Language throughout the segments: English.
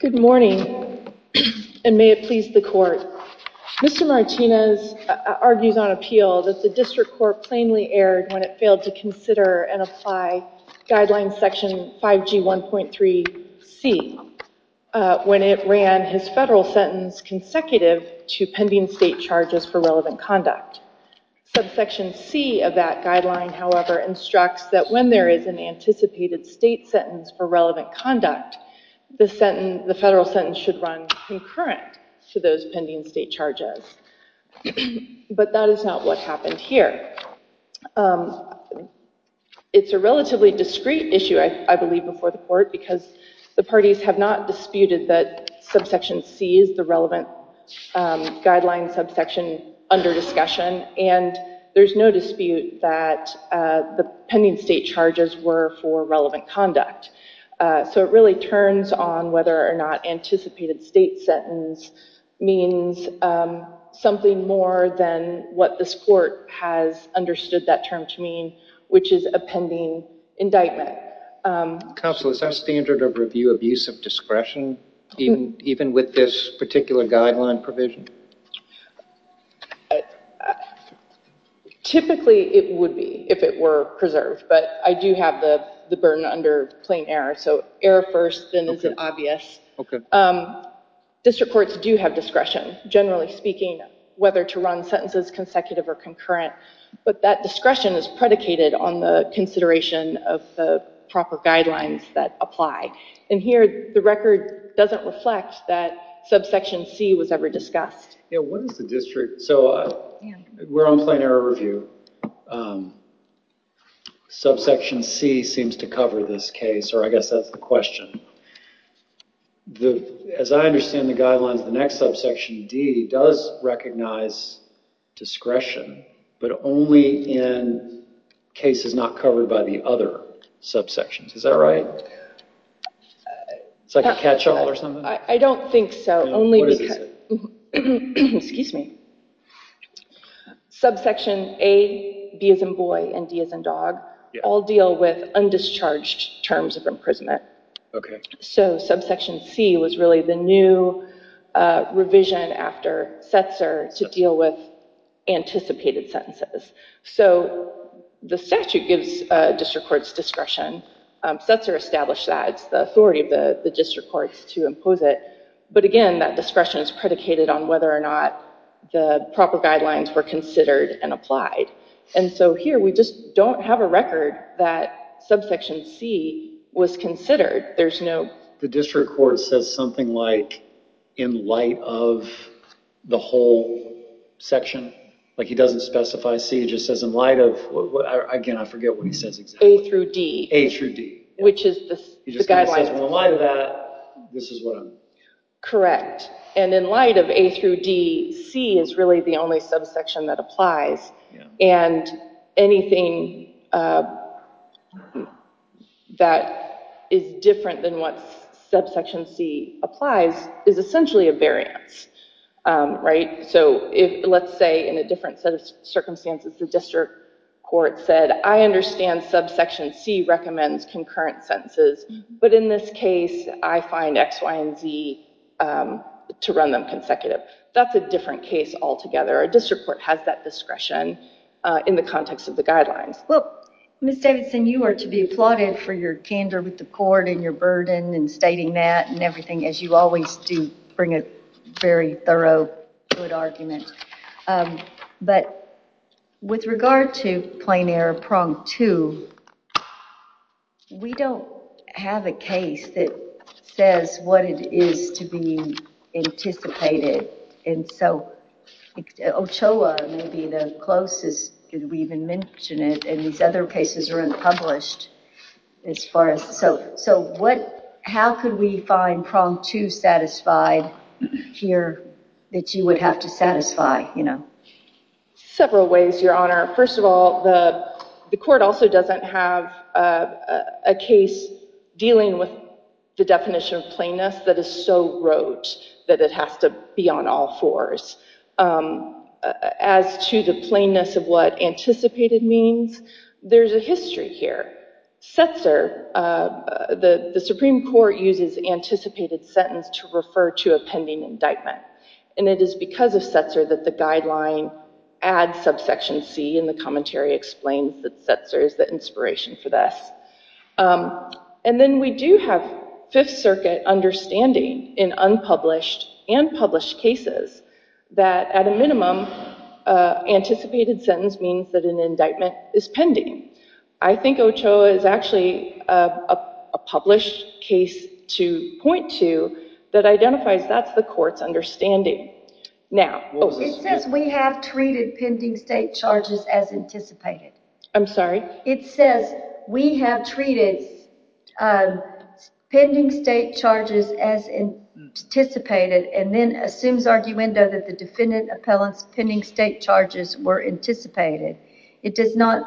Good morning, and may it please the Court. Mr. Martinez argues on appeal that the District Court plainly erred when it failed to consider and apply Guideline Section 5G1.3c when it ran his federal sentence consecutive to pending state charges for relevant conduct. Subsection C of that guideline, however, instructs that when there is an anticipated state sentence for relevant conduct, the federal sentence should run concurrent to those pending state charges. But that is not what happened here. It's a relatively discreet issue, I believe, before the Court, because the parties have not disputed that Subsection C is the relevant guideline subsection under discussion, and there's no dispute that the pending state charges were for relevant conduct. So it really turns on whether or not anticipated state sentence means something more than what this Court has understood that term to mean, which is a pending indictment. Counsel, is there a standard of review of use of discretion, even with this particular guideline provision? Typically, it would be if it were preserved, but I do have the burden under plain error, so error first, then is it obvious? District courts do have discretion, generally speaking, whether to run sentences consecutive or concurrent, but that discretion is predicated on the consideration of the proper guidelines that apply. And here, the record doesn't reflect that Subsection C was ever discussed. Yeah, what is the district? So we're on plain error review. Subsection C seems to cover this case, or I guess that's the question. As I understand the guidelines, the next subsection, Section D, does recognize discretion, but only in cases not covered by the other subsections. Is that right? It's like a catch-all or something? I don't think so. Only because... What does it say? Excuse me. Subsection A, B as in boy, and D as in dog, all deal with undischarged terms of imprisonment. So Subsection C was really the new revision after Setzer to deal with anticipated sentences. So the statute gives district courts discretion. Setzer established that. It's the authority of the district courts to impose it, but again, that discretion is predicated on whether or not the proper guidelines were considered and applied. And so here, we just don't have a record that Subsection C was considered. There's no... The district court says something like, in light of the whole section. Like he doesn't specify C, he just says in light of... Again, I forget what he says exactly. A through D. A through D. Which is the guidelines. He just kind of says, in light of that, this is what I'm... Correct. And in light of A through D, C is really the only subsection that applies. And anything that is different than what Subsection C applies is essentially a variance. So let's say in a different set of circumstances, the district court said, I understand Subsection C recommends concurrent sentences, but in this case, I find X, Y, and Z to run them consecutive. That's a different case altogether. A district court has that discretion in the context of the guidelines. Well, Ms. Davidson, you are to be applauded for your candor with the court and your burden in stating that and everything, as you always do bring a very thorough, good argument. But with regard to Plain Air, Prong 2, we don't have a case that says what it is to be anticipated. And so Ochoa may be the closest that we even mention it, and these other cases are unpublished as far as... So how could we find Prong 2 satisfied here that you would have to satisfy? Several ways, Your Honor. First of all, the court also doesn't have a case dealing with the definition of plainness that is so rote that it has to be on all fours. As to the plainness of what anticipated means, there's a history here. Setzer, the Supreme Court uses anticipated sentence to refer to a pending indictment. And it is because of Setzer that the guideline adds subsection C in the commentary explains that Setzer is the inspiration for this. And then we do have Fifth Circuit understanding in unpublished and published cases that at a minimum, anticipated sentence means that an indictment is pending. I think Ochoa is actually a published case to point to that identifies that's the court's understanding. Now... It says we have treated pending state charges as anticipated. I'm sorry? It says we have treated pending state charges as anticipated and then assumes arguendo that the defendant pending state charges were anticipated. It does not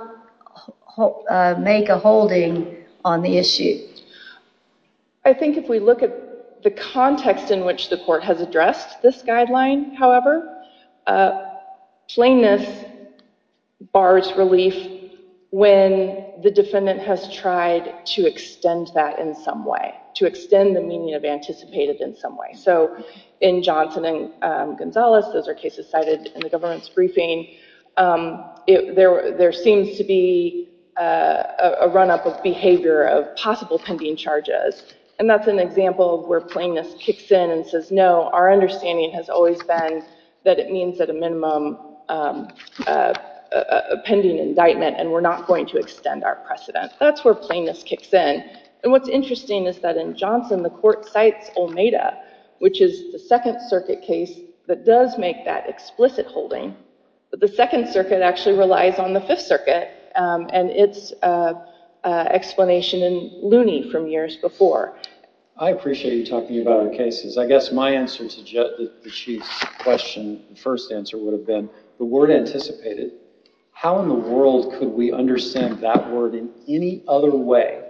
make a holding on the issue. I think if we look at the context in which the court has addressed this guideline, however, plainness bars relief when the defendant has tried to extend that in some way, to extend the meaning of anticipated in some way. So in Johnson and Gonzalez, those are cases cited in the government's briefing, there seems to be a run-up of behavior of possible pending charges. And that's an example where plainness kicks in and says no, our understanding has always been that it means at a minimum a pending indictment and we're not going to extend our precedent. That's where plainness kicks in. And what's interesting is that in Johnson, the court cites Olmeda, which is the Second Circuit case that does make that explicit holding. But the Second Circuit actually relies on the Fifth Circuit and its explanation in Looney from years before. I appreciate you talking about our cases. I guess my answer to the Chief's question, the first answer would have been the word anticipated. How in the world could we understand that word in any other way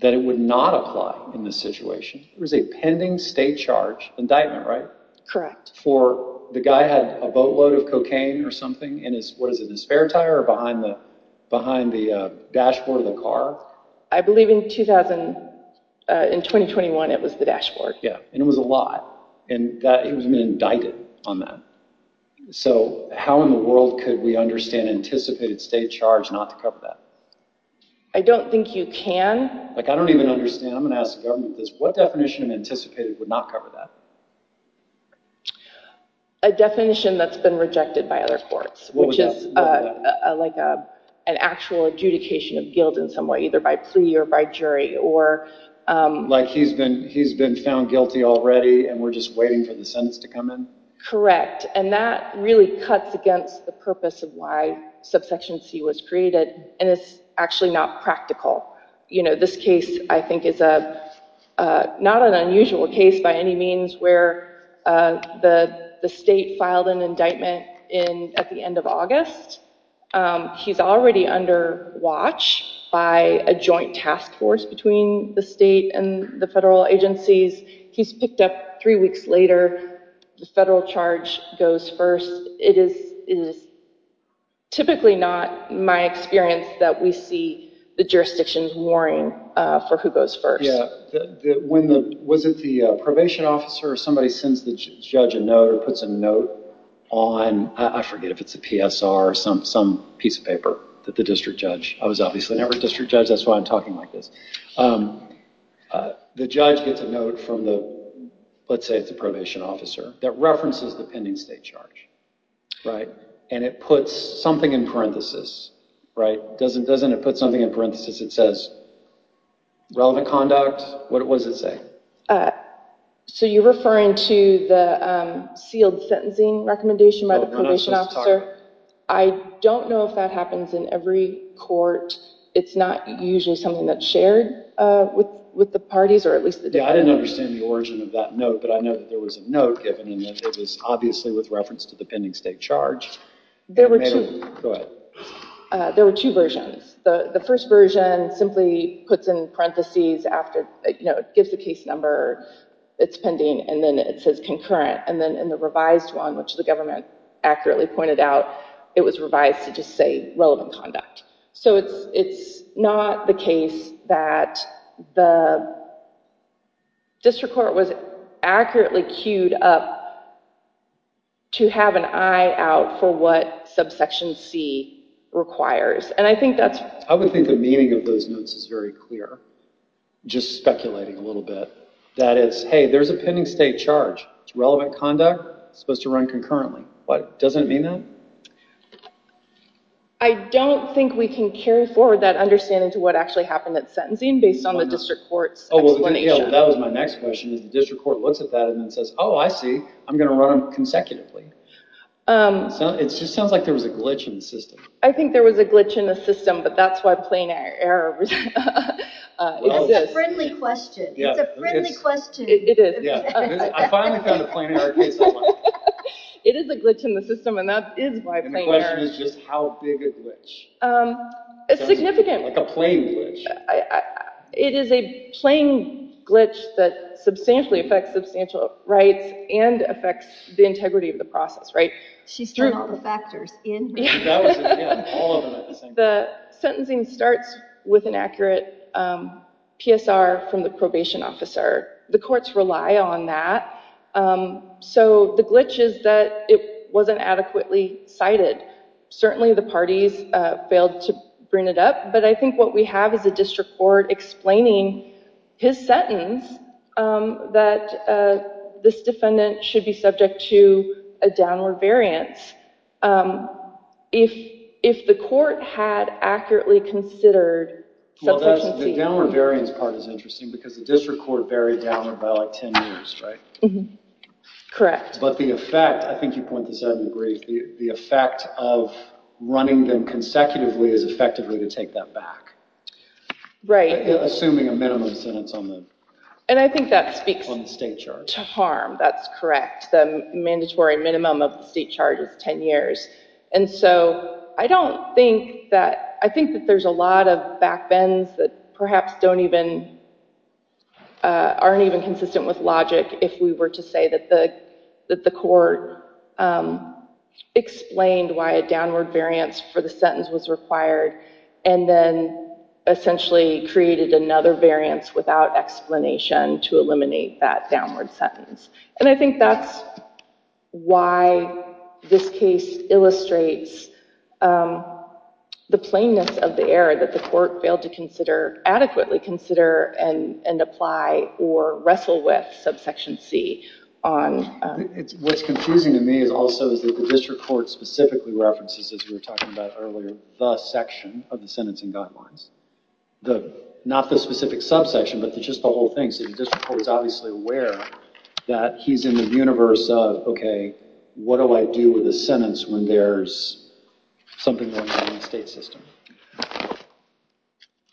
that it would not apply in this situation? It was a pending state charge indictment, right? Correct. For the guy had a boatload of cocaine or something in his, what is it, his spare tire or behind the dashboard of the car? I believe in 2021, it was the dashboard. Yeah, and it was a lot. And he was indicted on that. So how in the world could we understand anticipated state charge not to cover that? I don't think you can. I don't even understand. I'm going to ask the government this. What definition of anticipated would not cover that? A definition that's been rejected by other courts, which is like an actual adjudication of guilt in some way, either by plea or by jury. Like he's been found guilty already and we're just waiting for the sentence to come in? Correct. And that really cuts against the purpose of why subsection C was created. And it's actually not practical. This case, I think, is not an unusual case by any means where the state filed an indictment at the end of August. He's already under watch by a joint task force between the state and the federal agencies. He's picked up three weeks later. The federal charge goes first. It is typically not my experience that we see the jurisdictions warring for who goes first. Yeah. Was it the probation officer or somebody sends the judge a note or puts a note on? I forget if it's a PSR or some piece of paper that the district judge... I was obviously never a district judge. That's why I'm talking like this. The judge gets a note from the, let's say it's a probation officer, that references the pending state charge, right? And it puts something in parenthesis, right? Doesn't it put something in parenthesis that says relevant conduct? What does it say? So you're referring to the sealed sentencing recommendation by the probation officer? I don't know if that happens in court. It's not usually something that's shared with the parties, or at least the day. I didn't understand the origin of that note, but I know that there was a note given, and it was obviously with reference to the pending state charge. There were two versions. The first version simply puts in parenthesis after it gives the case number, it's pending, and then it says concurrent. And then in the revised one, which the government accurately pointed out, it was revised to just say relevant conduct. So it's not the case that the district court was accurately queued up to have an eye out for what subsection C requires. And I think that's... I would think the meaning of those notes is very clear. Just speculating a little bit. That is, hey, there's a pending state charge. It's relevant conduct. It's supposed to run concurrently. What? Doesn't mean that? I don't think we can carry forward that understanding to what actually happened at sentencing based on the district court's explanation. That was my next question, is the district court looks at that and says, oh, I see. I'm going to run them consecutively. It just sounds like there was a glitch in the system. I think there was a glitch in the system, but that's why plain error. It's a friendly question. It's a friendly question. It is. I finally found a plain error case online. It is a glitch in the system, and that is why plain error. And the question is just how big a glitch? Significant. Like a plain glitch. It is a plain glitch that substantially affects substantial rights and affects the integrity of the process, right? She's turned all the factors in. Yeah, all of them at the same time. The sentencing starts with an accurate PSR from the probation officer. The courts rely on that. So the glitch is that it wasn't adequately cited. Certainly the parties failed to bring it up, but I think what we have is a district court explaining his sentence that this defendant should be subject to a downward variance if the court had accurately considered subsequency. The downward variance part is interesting because the district court buried downward by like 10 years, right? Correct. But the effect, I think you point this out in the brief, the effect of running them consecutively is effectively to take that back. Right. Assuming a minimum sentence on the state charge. And I think that speaks to harm. That's correct. The mandatory minimum of the state charge is 10 years. And so I don't think that, I think that there's a lot of back bends that perhaps don't even, aren't even consistent with logic if we were to say that the court explained why a downward variance for the sentence was required and then essentially created another variance without explanation to eliminate that downward sentence. And I think that's why this case illustrates the plainness of the error that the court failed to consider, adequately consider and apply or wrestle with subsection C. What's confusing to me is also that the district court specifically references, as we were talking about earlier, the section of the sentencing guidelines. The, not the specific subsection, but just the whole thing. So the district court is obviously aware that he's in the universe of, okay, what do I do with a sentence when there's something going on in the state system?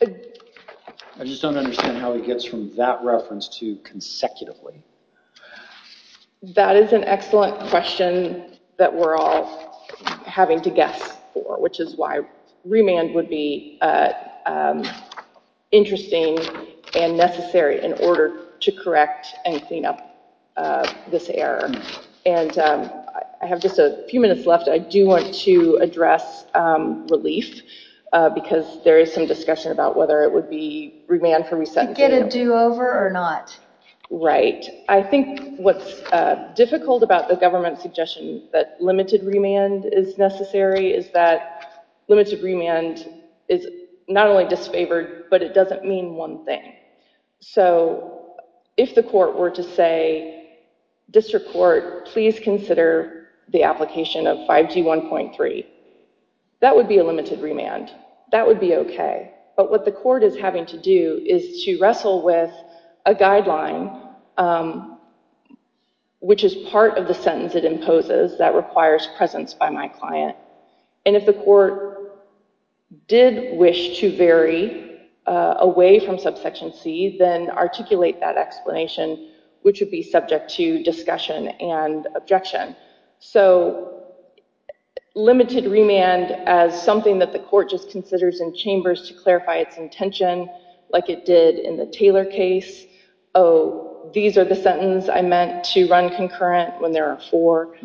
I just don't understand how he gets from that reference to consecutively. That is an excellent question that we're all having to guess for, which is why remand would be interesting and necessary in order to correct and clean up this error. And I have just a few minutes left. I do want to address relief because there is some discussion about whether it would be remand for resetting. To get a do over or not. Right. I think what's difficult about the government's suggestion that limited remand is necessary is that limited remand is not only disfavored, but it doesn't mean one thing. So if the court were to say district court, please consider the application of 5G 1.3. That would be a limited remand. That would be okay. But what the court is having to do is to wrestle with a guideline, which is part of the sentence it imposes that requires presence by my client. And if the court did wish to vary away from subsection C, then articulate that explanation, which would be subject to discussion and objection. So limited remand as something that the court just considers in chambers to clarify its intention, like it did in the Taylor case. Oh, these are the sentence I meant to run concurrent when there are four.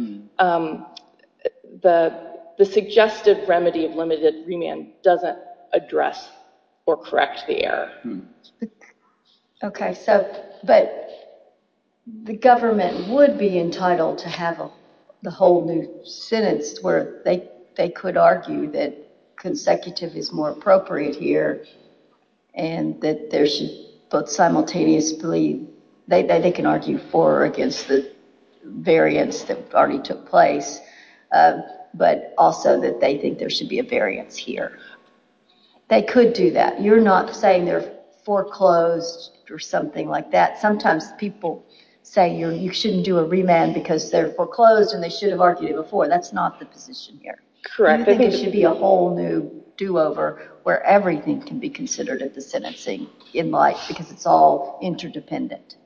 The suggestive remedy of limited remand doesn't address or correct the error. Okay. So, but the government would be entitled to have the whole new sentence where they could argue that consecutive is more appropriate here and that there should both simultaneously, they can argue for or against the variance that already took place, but also that they think there should be a variance here. They could do that. You're not saying they're foreclosed or something like that. Sometimes people say you shouldn't do a remand because they're foreclosed and they should have argued it before. That's not the position here. Correct. It should be a whole new do-over where everything can be considered at the sentencing in life because it's all interdependent.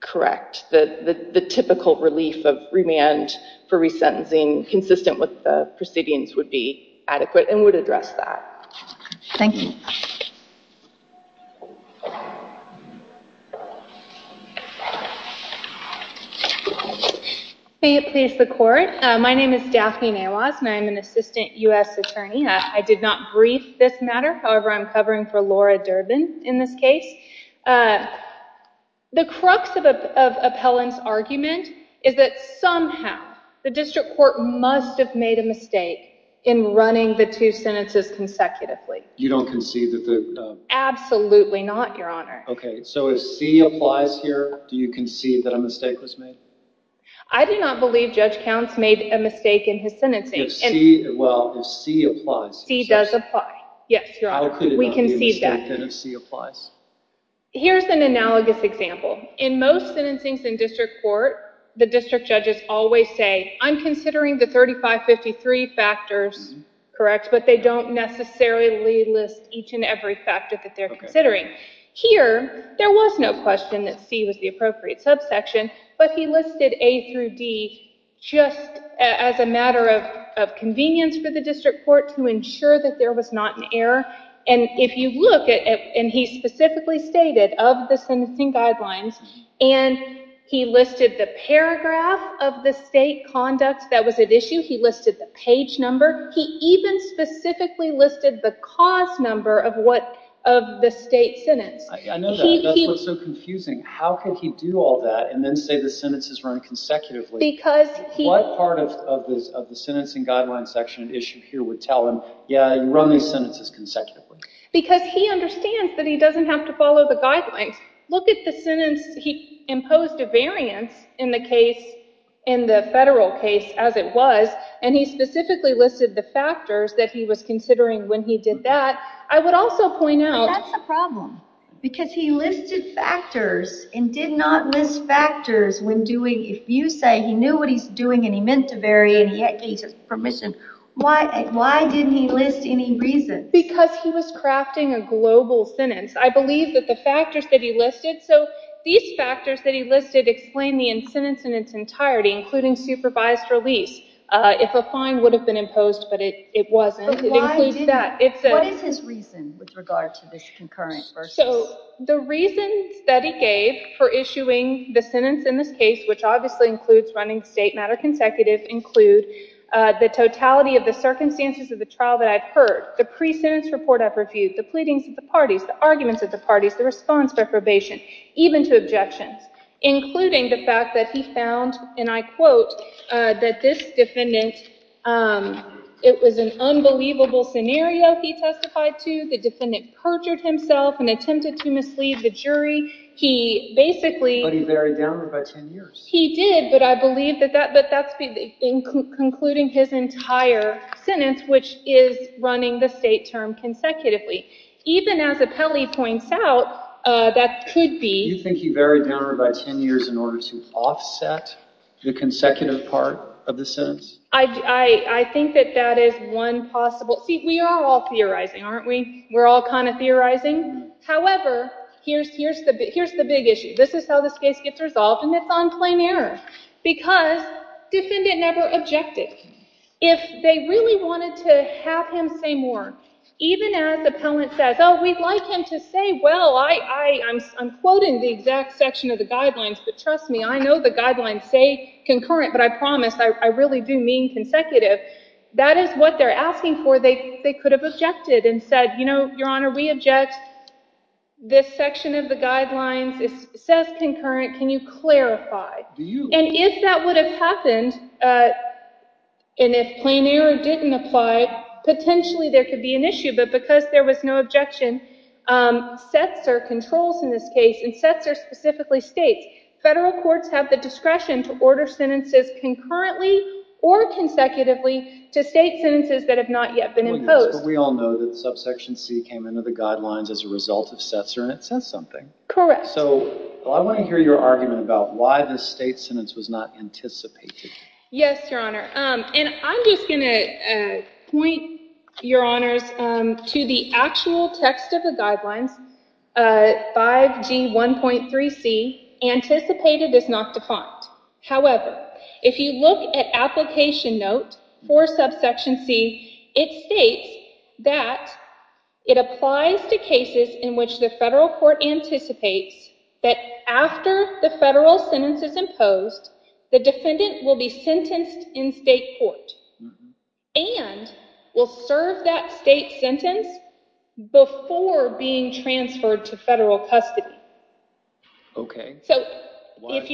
Correct. The typical relief of remand for resentencing consistent with the proceedings would be adequate and would address that. Thank you. May it please the court. My name is Daphne Nawaz and I'm an assistant U.S. attorney. I did not brief this matter. However, I'm covering for Laura Durbin in this case. The crux of Appellant's argument is that somehow the district court must have made a mistake in running the two sentences consecutively. You don't concede that the... Absolutely not, Your Honor. Okay. So if C applies here, do you concede that a mistake was made? I do not believe Judge Counts made a mistake in his sentencing. If C, well, if C applies. C does apply. Yes, Your Honor. We concede that. Here's an analogous example. In most sentencings in district court, the district judges always say, I'm considering the 3553 factors, correct, but they don't necessarily list each and every factor that they're considering. Here, there was no question that C was the appropriate subsection, but he listed A through D just as a matter of convenience for district court to ensure that there was not an error. And if you look at it, and he specifically stated of the sentencing guidelines and he listed the paragraph of the state conduct that was at issue, he listed the page number. He even specifically listed the cause number of what of the state sentence. I know that, but that's what's so confusing. How could he do all that and then say the sentence is run consecutively? Because he... What part of the sentencing guidelines section at issue here would tell him, yeah, you run these sentences consecutively? Because he understands that he doesn't have to follow the guidelines. Look at the sentence, he imposed a variance in the case, in the federal case, as it was, and he specifically listed the factors that he was considering when he did that. I would also point out... That's the problem, because he listed factors and did not list factors when doing... If you say he knew what he's doing and he meant to vary and he gave his permission, why didn't he list any reasons? Because he was crafting a global sentence. I believe that the factors that he listed... So these factors that he listed explain the sentence in its entirety, including supervised release. If a fine would have been imposed, but it wasn't, it includes that. What is his reason with regard to this concurrent versus... So the reasons that he gave for issuing the sentence in this case, which obviously includes running the state matter consecutive, include the totality of the circumstances of the trial that I've heard, the pre-sentence report I've reviewed, the pleadings of the parties, the arguments of the parties, the response for probation, even to objections, including the fact that he found, and I quote, that this defendant... It was an unbelievable scenario he testified to. The defendant perjured himself and attempted to mislead the jury. He basically... But he varied downward by 10 years. He did, but I believe that that's concluding his entire sentence, which is running the state term consecutively. Even as Apelli points out, that could be... You think he varied downward by 10 years in order to offset the consecutive part of the sentence? I think that that is one possible... See, we are all theorizing, aren't we? We're all kind of theorizing. However, here's the big issue. This is how this case gets resolved, and it's on plain error, because defendant never objected. If they really wanted to have him say more, even as Appellant says, oh, we'd like him to say, well, I'm quoting the exact section of the guidelines, but trust me, I know the guidelines say concurrent, but I promise, I really do mean consecutive. That is what they're asking for. They could have objected and said, Your Honor, we object this section of the guidelines. It says concurrent. Can you clarify? And if that would have happened, and if plain error didn't apply, potentially there could be an issue, but because there was no objection, Setzer controls in this case, and Setzer specifically states, federal courts have the discretion to order sentences concurrently or consecutively to state sentences that have not yet been imposed. We all know that subsection C came into the guidelines as a result of Setzer, and it says something. Correct. So I want to hear your argument about why the state sentence was not anticipated. Yes, Your Honor, and I'm just going to define it. However, if you look at application note for subsection C, it states that it applies to cases in which the federal court anticipates that after the federal sentence is imposed, the defendant will be sentenced in state court and will serve that state sentence before being transferred to federal custody. Okay. So what does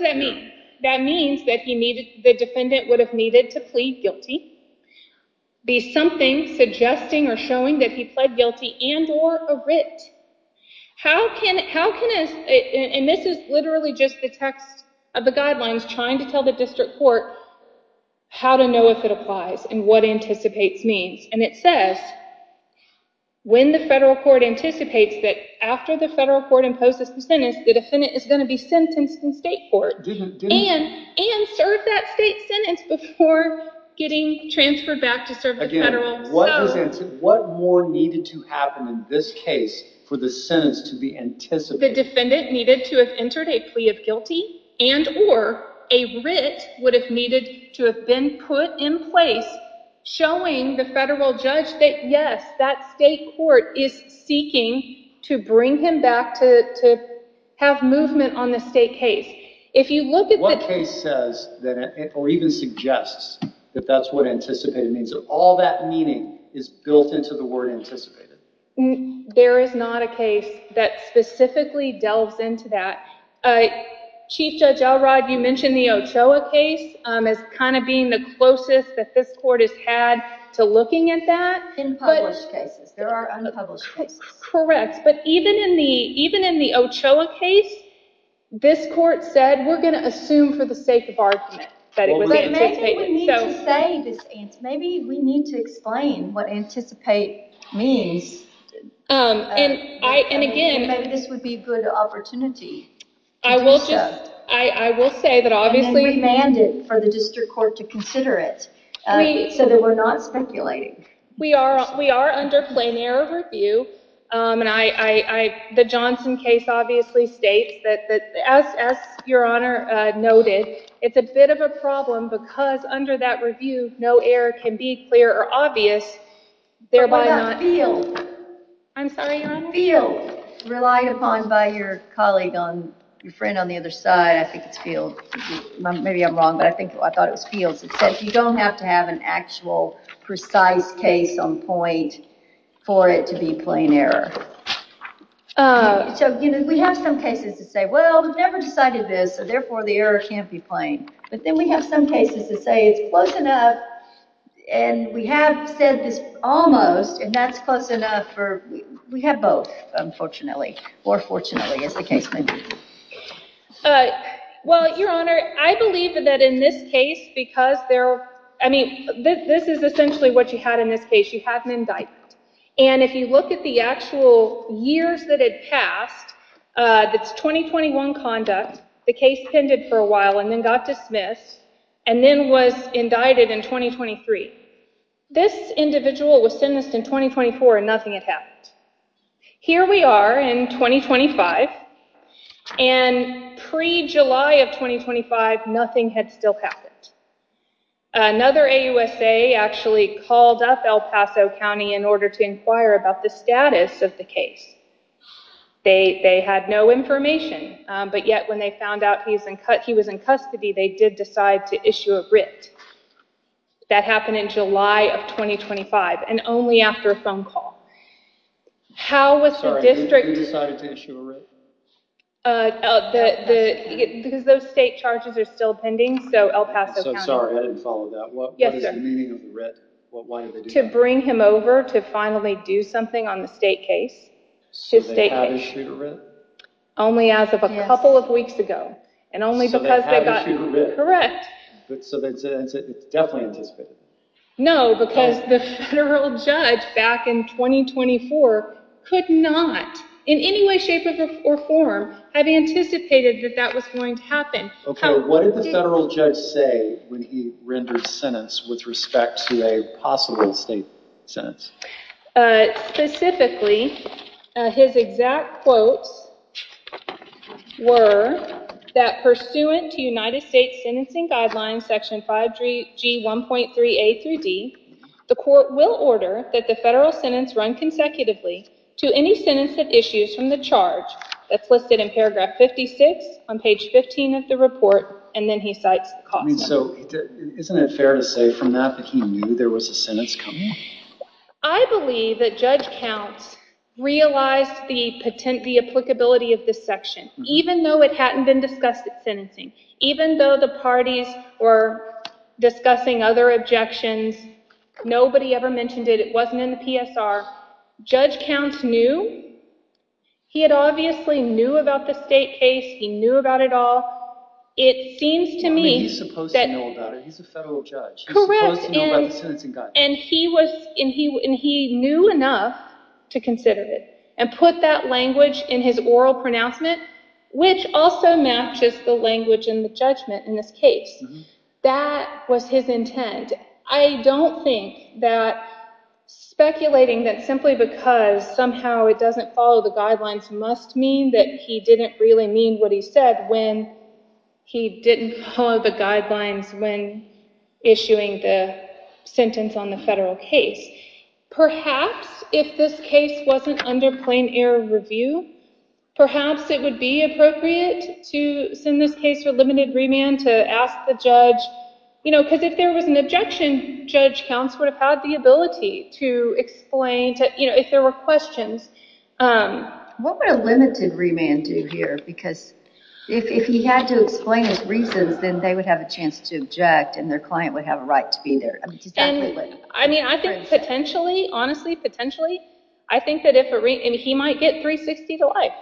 that mean? That means that the defendant would have needed to plead guilty, be something suggesting or showing that he pled guilty and or a writ. And this is literally just the text of the guidelines trying to tell the means. And it says when the federal court anticipates that after the federal court imposes the sentence, the defendant is going to be sentenced in state court and serve that state sentence before getting transferred back to serve the federal. What more needed to happen in this case for the sentence to be anticipated? The defendant needed to have entered a plea of guilty and or a writ would have needed to have been put in place showing the federal judge that yes, that state court is seeking to bring him back to have movement on the state case. If you look at what case says that or even suggests that that's what anticipated means, all that meaning is built into the word anticipated. There is not a case that specifically delves into that. Chief Judge Elrod, you mentioned the Ochoa case as kind of being the closest that this court has had to looking at that. In published cases. There are unpublished cases. Correct. But even in the Ochoa case, this court said we're going to assume for the sake of argument that it was anticipated. Maybe we need to say this answer. Maybe we need to explain what anticipate means. And again, maybe this would be a good opportunity. I will just, I will say that obviously we mandate for the district court to consider it so that we're not speculating. We are, we are under plain error review. And I, I, I, the Johnson case obviously states that as, as your honor noted, it's a bit of a problem because under that review, no error can be clear or obvious. Thereby not field. I'm sorry. Field relied upon by your colleague on your friend on the other side. I think it's field. Maybe I'm wrong, but I think I thought it was fields. It said you don't have to have an actual precise case on point for it to be plain error. Uh, so, you know, we have some cases to say, well, we've never decided this. So therefore the error can't be plain, but then we have some cases to say it's close enough. And we have said this almost, and that's close enough for, we have both unfortunately, or fortunately as the case may be. Uh, well, your honor, I believe that in this case, because there, I mean, this is essentially what you had in this case. You have an indictment. And if you look at the actual years that had passed, uh, that's 2021 conduct, the case tended for a while and then got dismissed and then was indicted in 2023. This individual was sentenced in 2024 and nothing had happened. Here we are in 2025 and pre-July of 2025, nothing had still happened. Another AUSA actually called up El Paso County in order to inquire about the status of the case. They, they had no information. Um, but yet when they found out he's in, he was in custody, they did decide to issue a writ. That happened in July of 2025 and only after a phone call. How was the district, uh, the, the, because those state charges are still pending. So El Paso County. I'm sorry, I didn't follow that. What is the meaning of the writ? Why did they do that? To bring him over to finally do something on the state case, his state case. Did they have issued a writ? Only as of a couple of weeks ago and only because they got. So they had issued a writ? Correct. So that's definitely anticipated. No, because the federal judge back in 2024 could not in any way, or form have anticipated that that was going to happen. Okay. What did the federal judge say when he rendered sentence with respect to a possible state sentence? Uh, specifically, his exact quotes were that pursuant to United States sentencing guidelines, section 5G 1.3A through D, the court will order that the federal sentence run consecutively to any sentence of charge. That's listed in paragraph 56 on page 15 of the report. And then he cites the cost. So isn't it fair to say from that, that he knew there was a sentence coming? I believe that judge counts realized the potent, the applicability of this section, even though it hadn't been discussed at sentencing, even though the parties were discussing other objections, nobody ever mentioned it. It wasn't in the PSR. Judge counts knew he had obviously knew about the state case. He knew about it all. It seems to me that he's supposed to know about it. He's a federal judge. Correct. And he was, and he, and he knew enough to consider it and put that language in his oral pronouncement, which also matches the language in the judgment in this case. That was his intent. I don't think that speculating that simply because somehow it doesn't follow the guidelines must mean that he didn't really mean what he said when he didn't follow the guidelines when issuing the sentence on the federal case. Perhaps if this case wasn't under plain air review, perhaps it would be appropriate to send this case for limited remand to ask the judge, you know, because if there was an objection, judge counts would have had the ability to explain to, you know, if there were questions. What would a limited remand do here? Because if he had to explain his reasons, then they would have a chance to object and their client would have a right to be there. I mean, I think potentially, honestly, potentially, I think that if he might get 360 to life.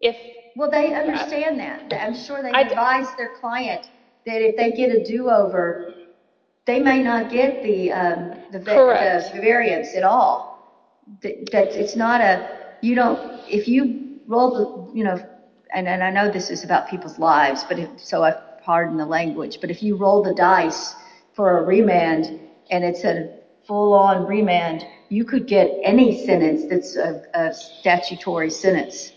If, well, they understand that. I'm sure they advise their client that if they get a do-over, they may not get the variance at all. That it's not a, you know, if you roll the, you know, and I know this is about people's lives, but so I pardon the language, but if you roll the dice for a remand and it's a full on remand, you could get any sentence that's a statutory sentence.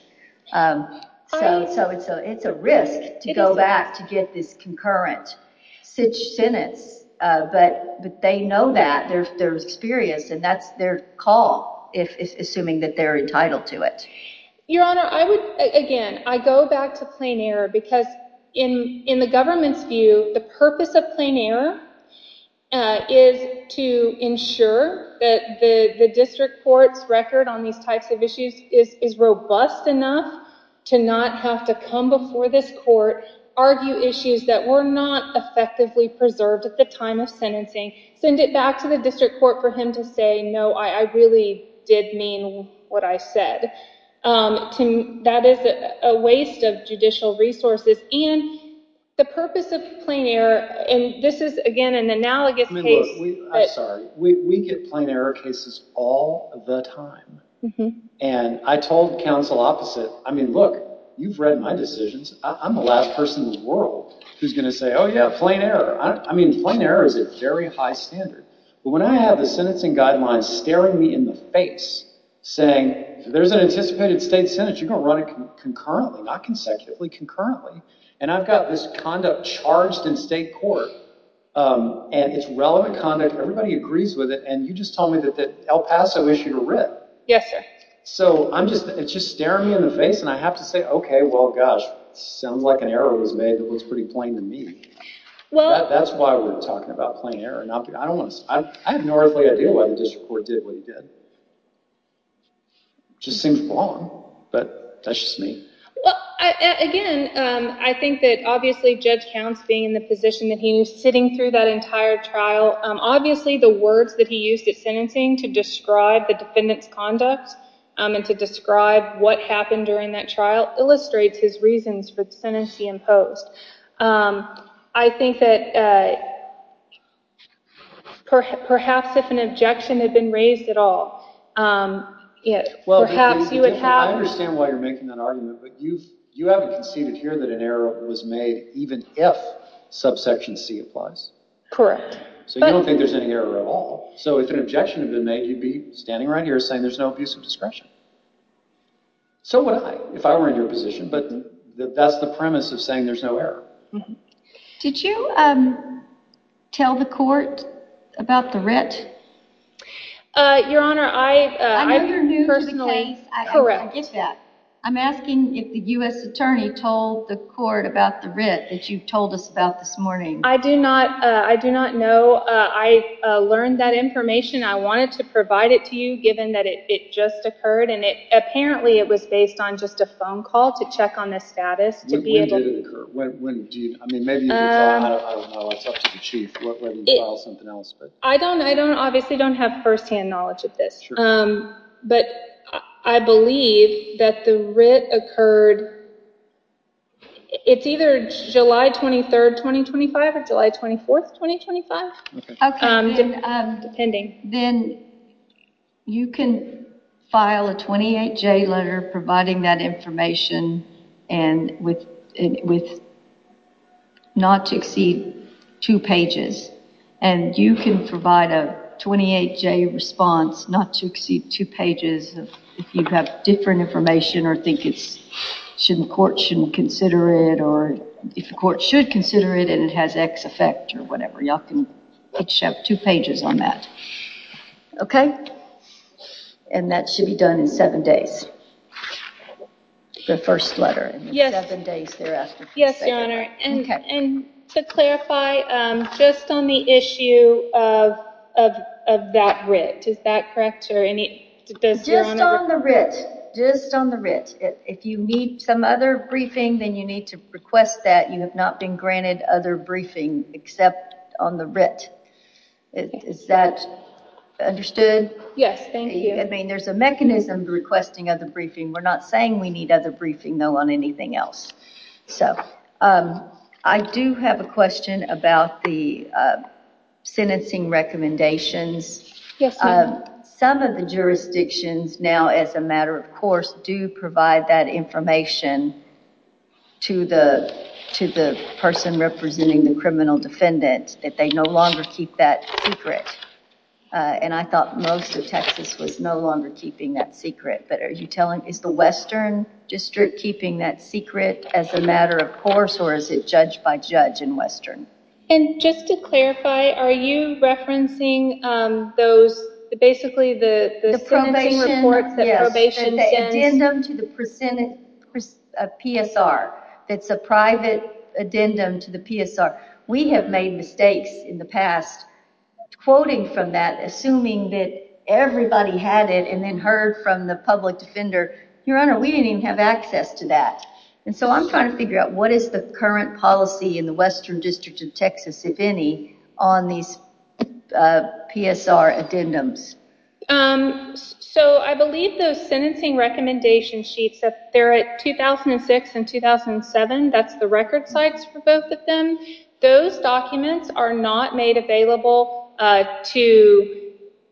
So it's a risk to go back to get this concurrent sentence, but they know that, they're experienced and that's their call, assuming that they're entitled to it. Your Honor, I would, again, I go back to plain error because in the government's view, the purpose of plain error is to ensure that the district court's record on these types of issues is robust enough to not have to come before this court, argue issues that were not effectively preserved at the time of sentencing, send it back to the district court for him to say, no, I really did mean what I said. That is a waste of judicial resources and the purpose of plain error, and this is, again, an analogous case. I'm sorry. We get plain error cases all the time and I told counsel opposite, I mean, look, you've read my decisions. I'm the last person in the world who's going to say, oh yeah, plain error. I mean, plain error is a very high standard, but when I have the sentencing guidelines staring me in the face saying there's an anticipated state sentence, you're going to run it concurrently, not consecutively, concurrently, and I've got this conduct charged in state court and it's relevant conduct, everybody agrees with it, and you just told me that El Paso issued a writ. Yes, sir. So it's just staring me in the face and I have to say, okay, well, gosh, sounds like an error was made that looks pretty plain to me. That's why we're talking about plain error. I have no earthly idea why the district court did what he did. Just seems wrong, but that's just me. Well, again, I think that obviously Judge Counts being in the position that he was sitting through that entire trial, obviously the words that he used at sentencing to describe the defendant's conduct and to describe what happened during that trial illustrates his reasons for the sentence he imposed. I think that perhaps if an objection had been raised at all, perhaps you would have... I understand why you're making that argument, but you haven't conceded here that an error was made even if subsection C applies. Correct. So you don't think there's any error at all, so if an objection had been made, you'd be standing right here saying there's no abuse of discretion. So would I if I were in your position, but that's the premise of saying there's no error. Did you tell the court about the writ? Your Honor, I personally... Correct. I'm asking if the U.S. attorney told the court about the writ that you told us about this morning. I do not know. I learned that information. I wanted to provide it to you given that it just occurred, and apparently it was based on just a phone call to check on the status. When did it occur? I don't know. I'll talk to the chief. I obviously don't have first-hand knowledge of this, but I believe that the writ occurred... it's either July 23rd, 2025 or July 24th, 2025. Okay. Then you can file a 28-J letter providing that information and with not to exceed two pages, and you can provide a 28-J response not to exceed two pages if you have different information or think the court shouldn't consider it, or if the court should consider it and it has X effect or whatever, y'all can the first letter. Yes, Your Honor, and to clarify, just on the issue of that writ, is that correct? Just on the writ. If you need some other briefing, then you need to request that. You have not been granted other briefing except on the writ. Is that understood? Yes, thank you. I mean, there's a mechanism for requesting other briefing. We're not saying we need other briefing, though, on anything else. So, I do have a question about the sentencing recommendations. Yes, ma'am. Some of the jurisdictions now, as a matter of course, do provide that information to the person representing the criminal defendant that they no longer keep that secret, and I thought most of Texas was no longer keeping that secret, but are you telling, is the Western District keeping that secret as a matter of course, or is it judge-by-judge in Western? And just to clarify, are you referencing those, basically the sentencing reports that probation sends? Yes, the addendum to the PSR that's a addendum to the PSR. We have made mistakes in the past quoting from that, assuming that everybody had it and then heard from the public defender. Your Honor, we didn't even have access to that, and so I'm trying to figure out what is the current policy in the Western District of Texas, if any, on these PSR addendums. So, I believe those sentencing recommendation sheets, they're at 2006 and 2007. That's the record sites for both of them. Those documents are not made available to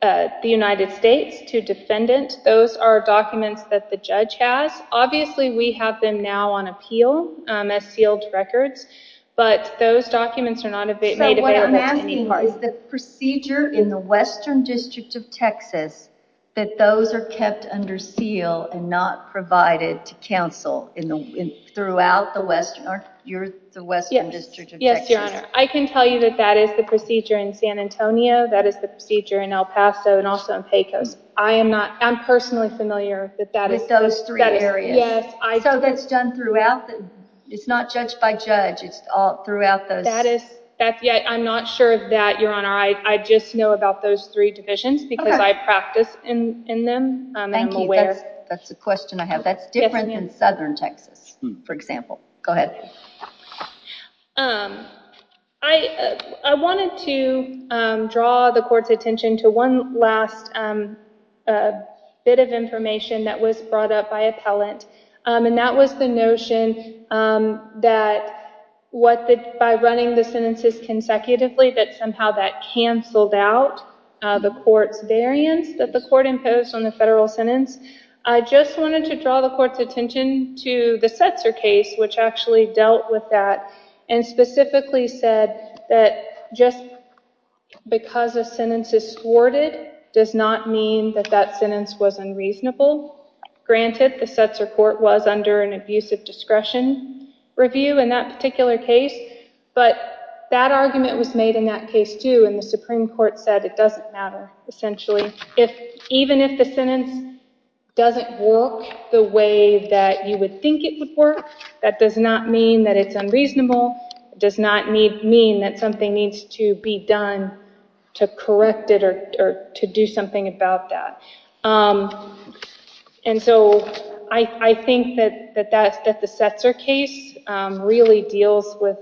the United States, to defendant. Those are documents that the judge has. Obviously, we have them now on appeal as sealed records, but those documents are not made available. So, what I'm asking is the procedure in the Western District of Texas that those are kept under seal and not provided to counsel throughout the Western? You're the Western District of Texas? Yes, Your Honor. I can tell you that that is the procedure in San Antonio, that is the procedure in El Paso, and also in Pecos. I am not, I'm personally familiar with that. With those three areas? Yes. So, that's done throughout? It's not judge-by-judge, it's all throughout those? I'm not sure of that, Your Honor. I just know about those three divisions because I practice in them. Thank you. That's a question I have. That's different than Southern Texas, for example. Go ahead. I wanted to draw the court's attention to one last bit of information that was brought up by appellant, and that was the notion that what the, by running the sentences consecutively, that somehow that canceled out the court's variance that the court imposed on the federal sentence. I just wanted to draw the court's attention to the Setzer case, which actually dealt with that, and specifically said that just because a sentence is thwarted does not mean that that sentence was unreasonable. Granted, the Setzer court was under an abusive discretion review in that particular case, but that argument was made in that case, too, and the Supreme Court said it doesn't matter, essentially. Even if the sentence doesn't work the way that you would think it would work, that does not mean that it's unreasonable. It does not mean that something needs to be done to correct it or to do something about that. I think that the Setzer case really deals with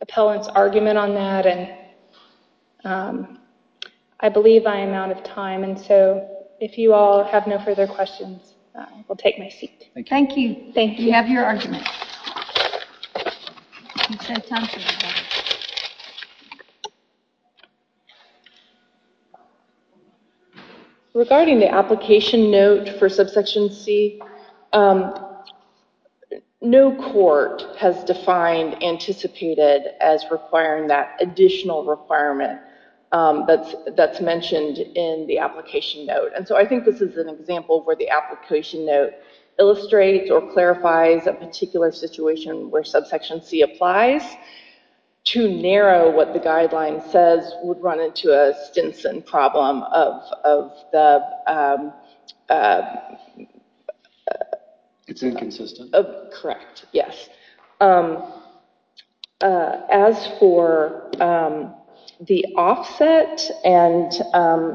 appellant's argument on that, and I believe I am out of time. If you all have no further questions, I will take my seat. Thank you. Thank you. We have your argument. Thank you. Regarding the application note for subsection C, no court has defined anticipated as requiring that additional requirement that's mentioned in the application note. I think this is an example where the application note illustrates or clarifies a particular situation where subsection C applies. To narrow what the guideline says would run into a Stinson problem of the... It's inconsistent. Correct. Yes. As for the offset and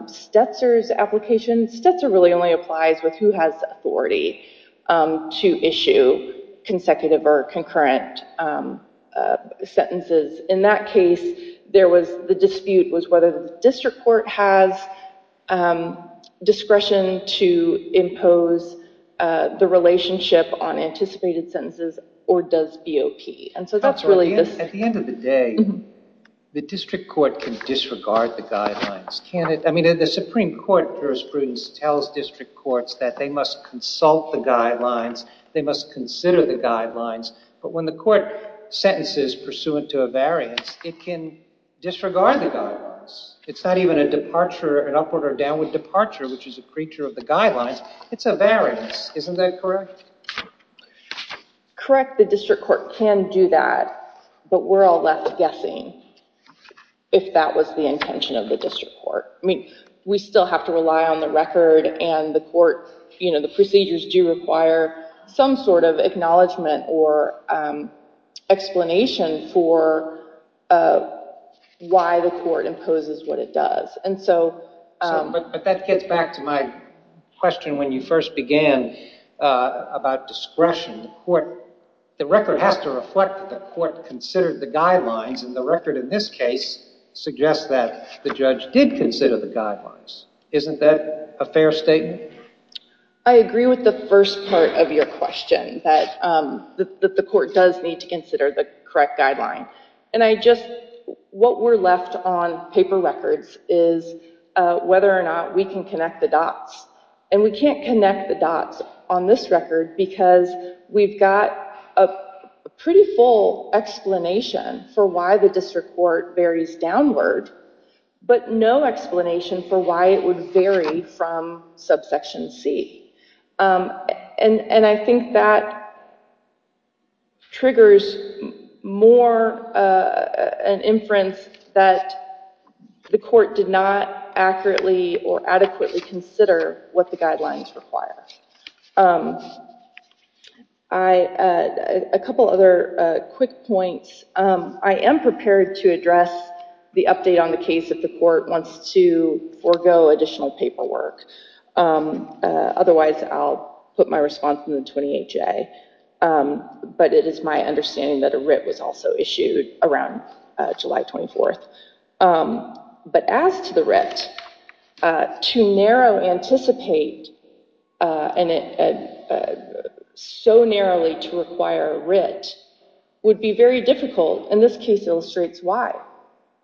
Setzer's application, Setzer really only applies with who has authority to issue consecutive or concurrent sentences. In that case, the dispute was whether the district court has discretion to impose the relationship on anticipated sentences or does BOP. At the end of the day, the district court can disregard the guidelines. The Supreme Court jurisprudence tells district courts that they must consult the guidelines, they must consider the guidelines, but when the court sentences pursuant to a variance, it can disregard the guidelines. It's not even an upward or downward departure, which is a creature of the guidelines. It's a variance. Isn't that correct? Correct. The district court can do that, but we're all left guessing if that was the intention of the district court. We still have to rely on the record and the court... The procedures do require some sort of acknowledgement or explanation for why the court imposes what it does. That gets back to my question when you first began about discretion. The record has to reflect that the court considered the guidelines and the record in this case suggests that the judge did consider the guidelines. Isn't that a fair statement? I agree with the first part of your question, that the court does need to consider the correct guideline. What we're left on paper records is whether or not we can connect the dots. We can't connect the dots on this record because we've got a pretty full explanation for why the district court varies downward, but no explanation for why it would vary from subsection C. I think that triggers more an inference that the court did not or adequately consider what the guidelines require. A couple other quick points. I am prepared to address the update on the case if the court wants to forego additional paperwork. Otherwise, I'll put my response in the 28-J, but it is my that a writ was also issued around July 24th. As to the writ, to narrow anticipate so narrowly to require a writ would be very difficult. This case illustrates why.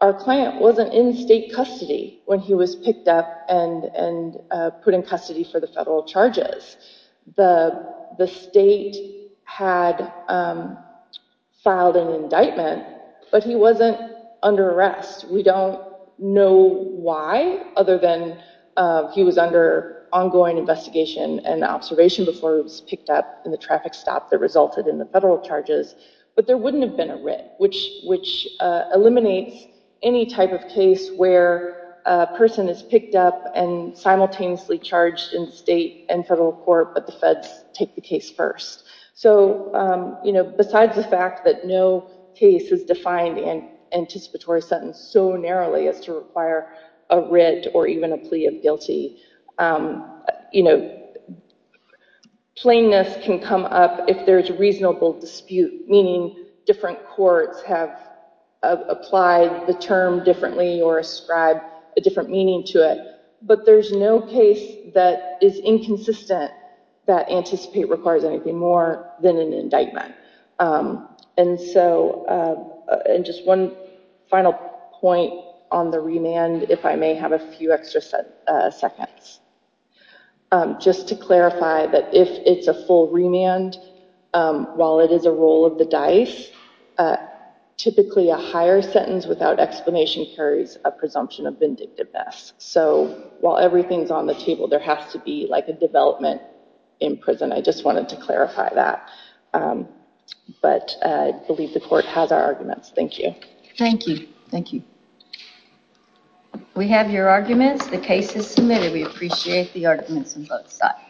Our client wasn't in state custody when he was picked up and put in custody for the federal charges. The state had filed an indictment, but he wasn't under arrest. We don't know why, other than he was under ongoing investigation and observation before he was picked up in the traffic stop that resulted in the federal charges, but there wouldn't have been a writ, which eliminates any type of case where a person is picked up and simultaneously charged in state and federal court, but the feds take the case first. Besides the fact that no case is defined in anticipatory sentence so narrowly as to require a writ or even a plea of guilty, you know, plainness can come up if there's reasonable dispute, meaning different courts have applied the term differently or ascribed a different meaning to it, but there's no case that is inconsistent that anticipate requires anything more than an indictment, and so and just one final point on the remand, if I may have a few extra seconds, just to clarify that if it's a full remand, while it is a roll of the dice, typically a higher sentence without explanation carries a presumption of vindictiveness, so while everything's on the table, there has to be like a development in prison. I just wanted to clarify that, but I believe the court has our arguments. Thank you. Thank you. Thank you. We have your arguments. The case is submitted. We appreciate the arguments on both sides.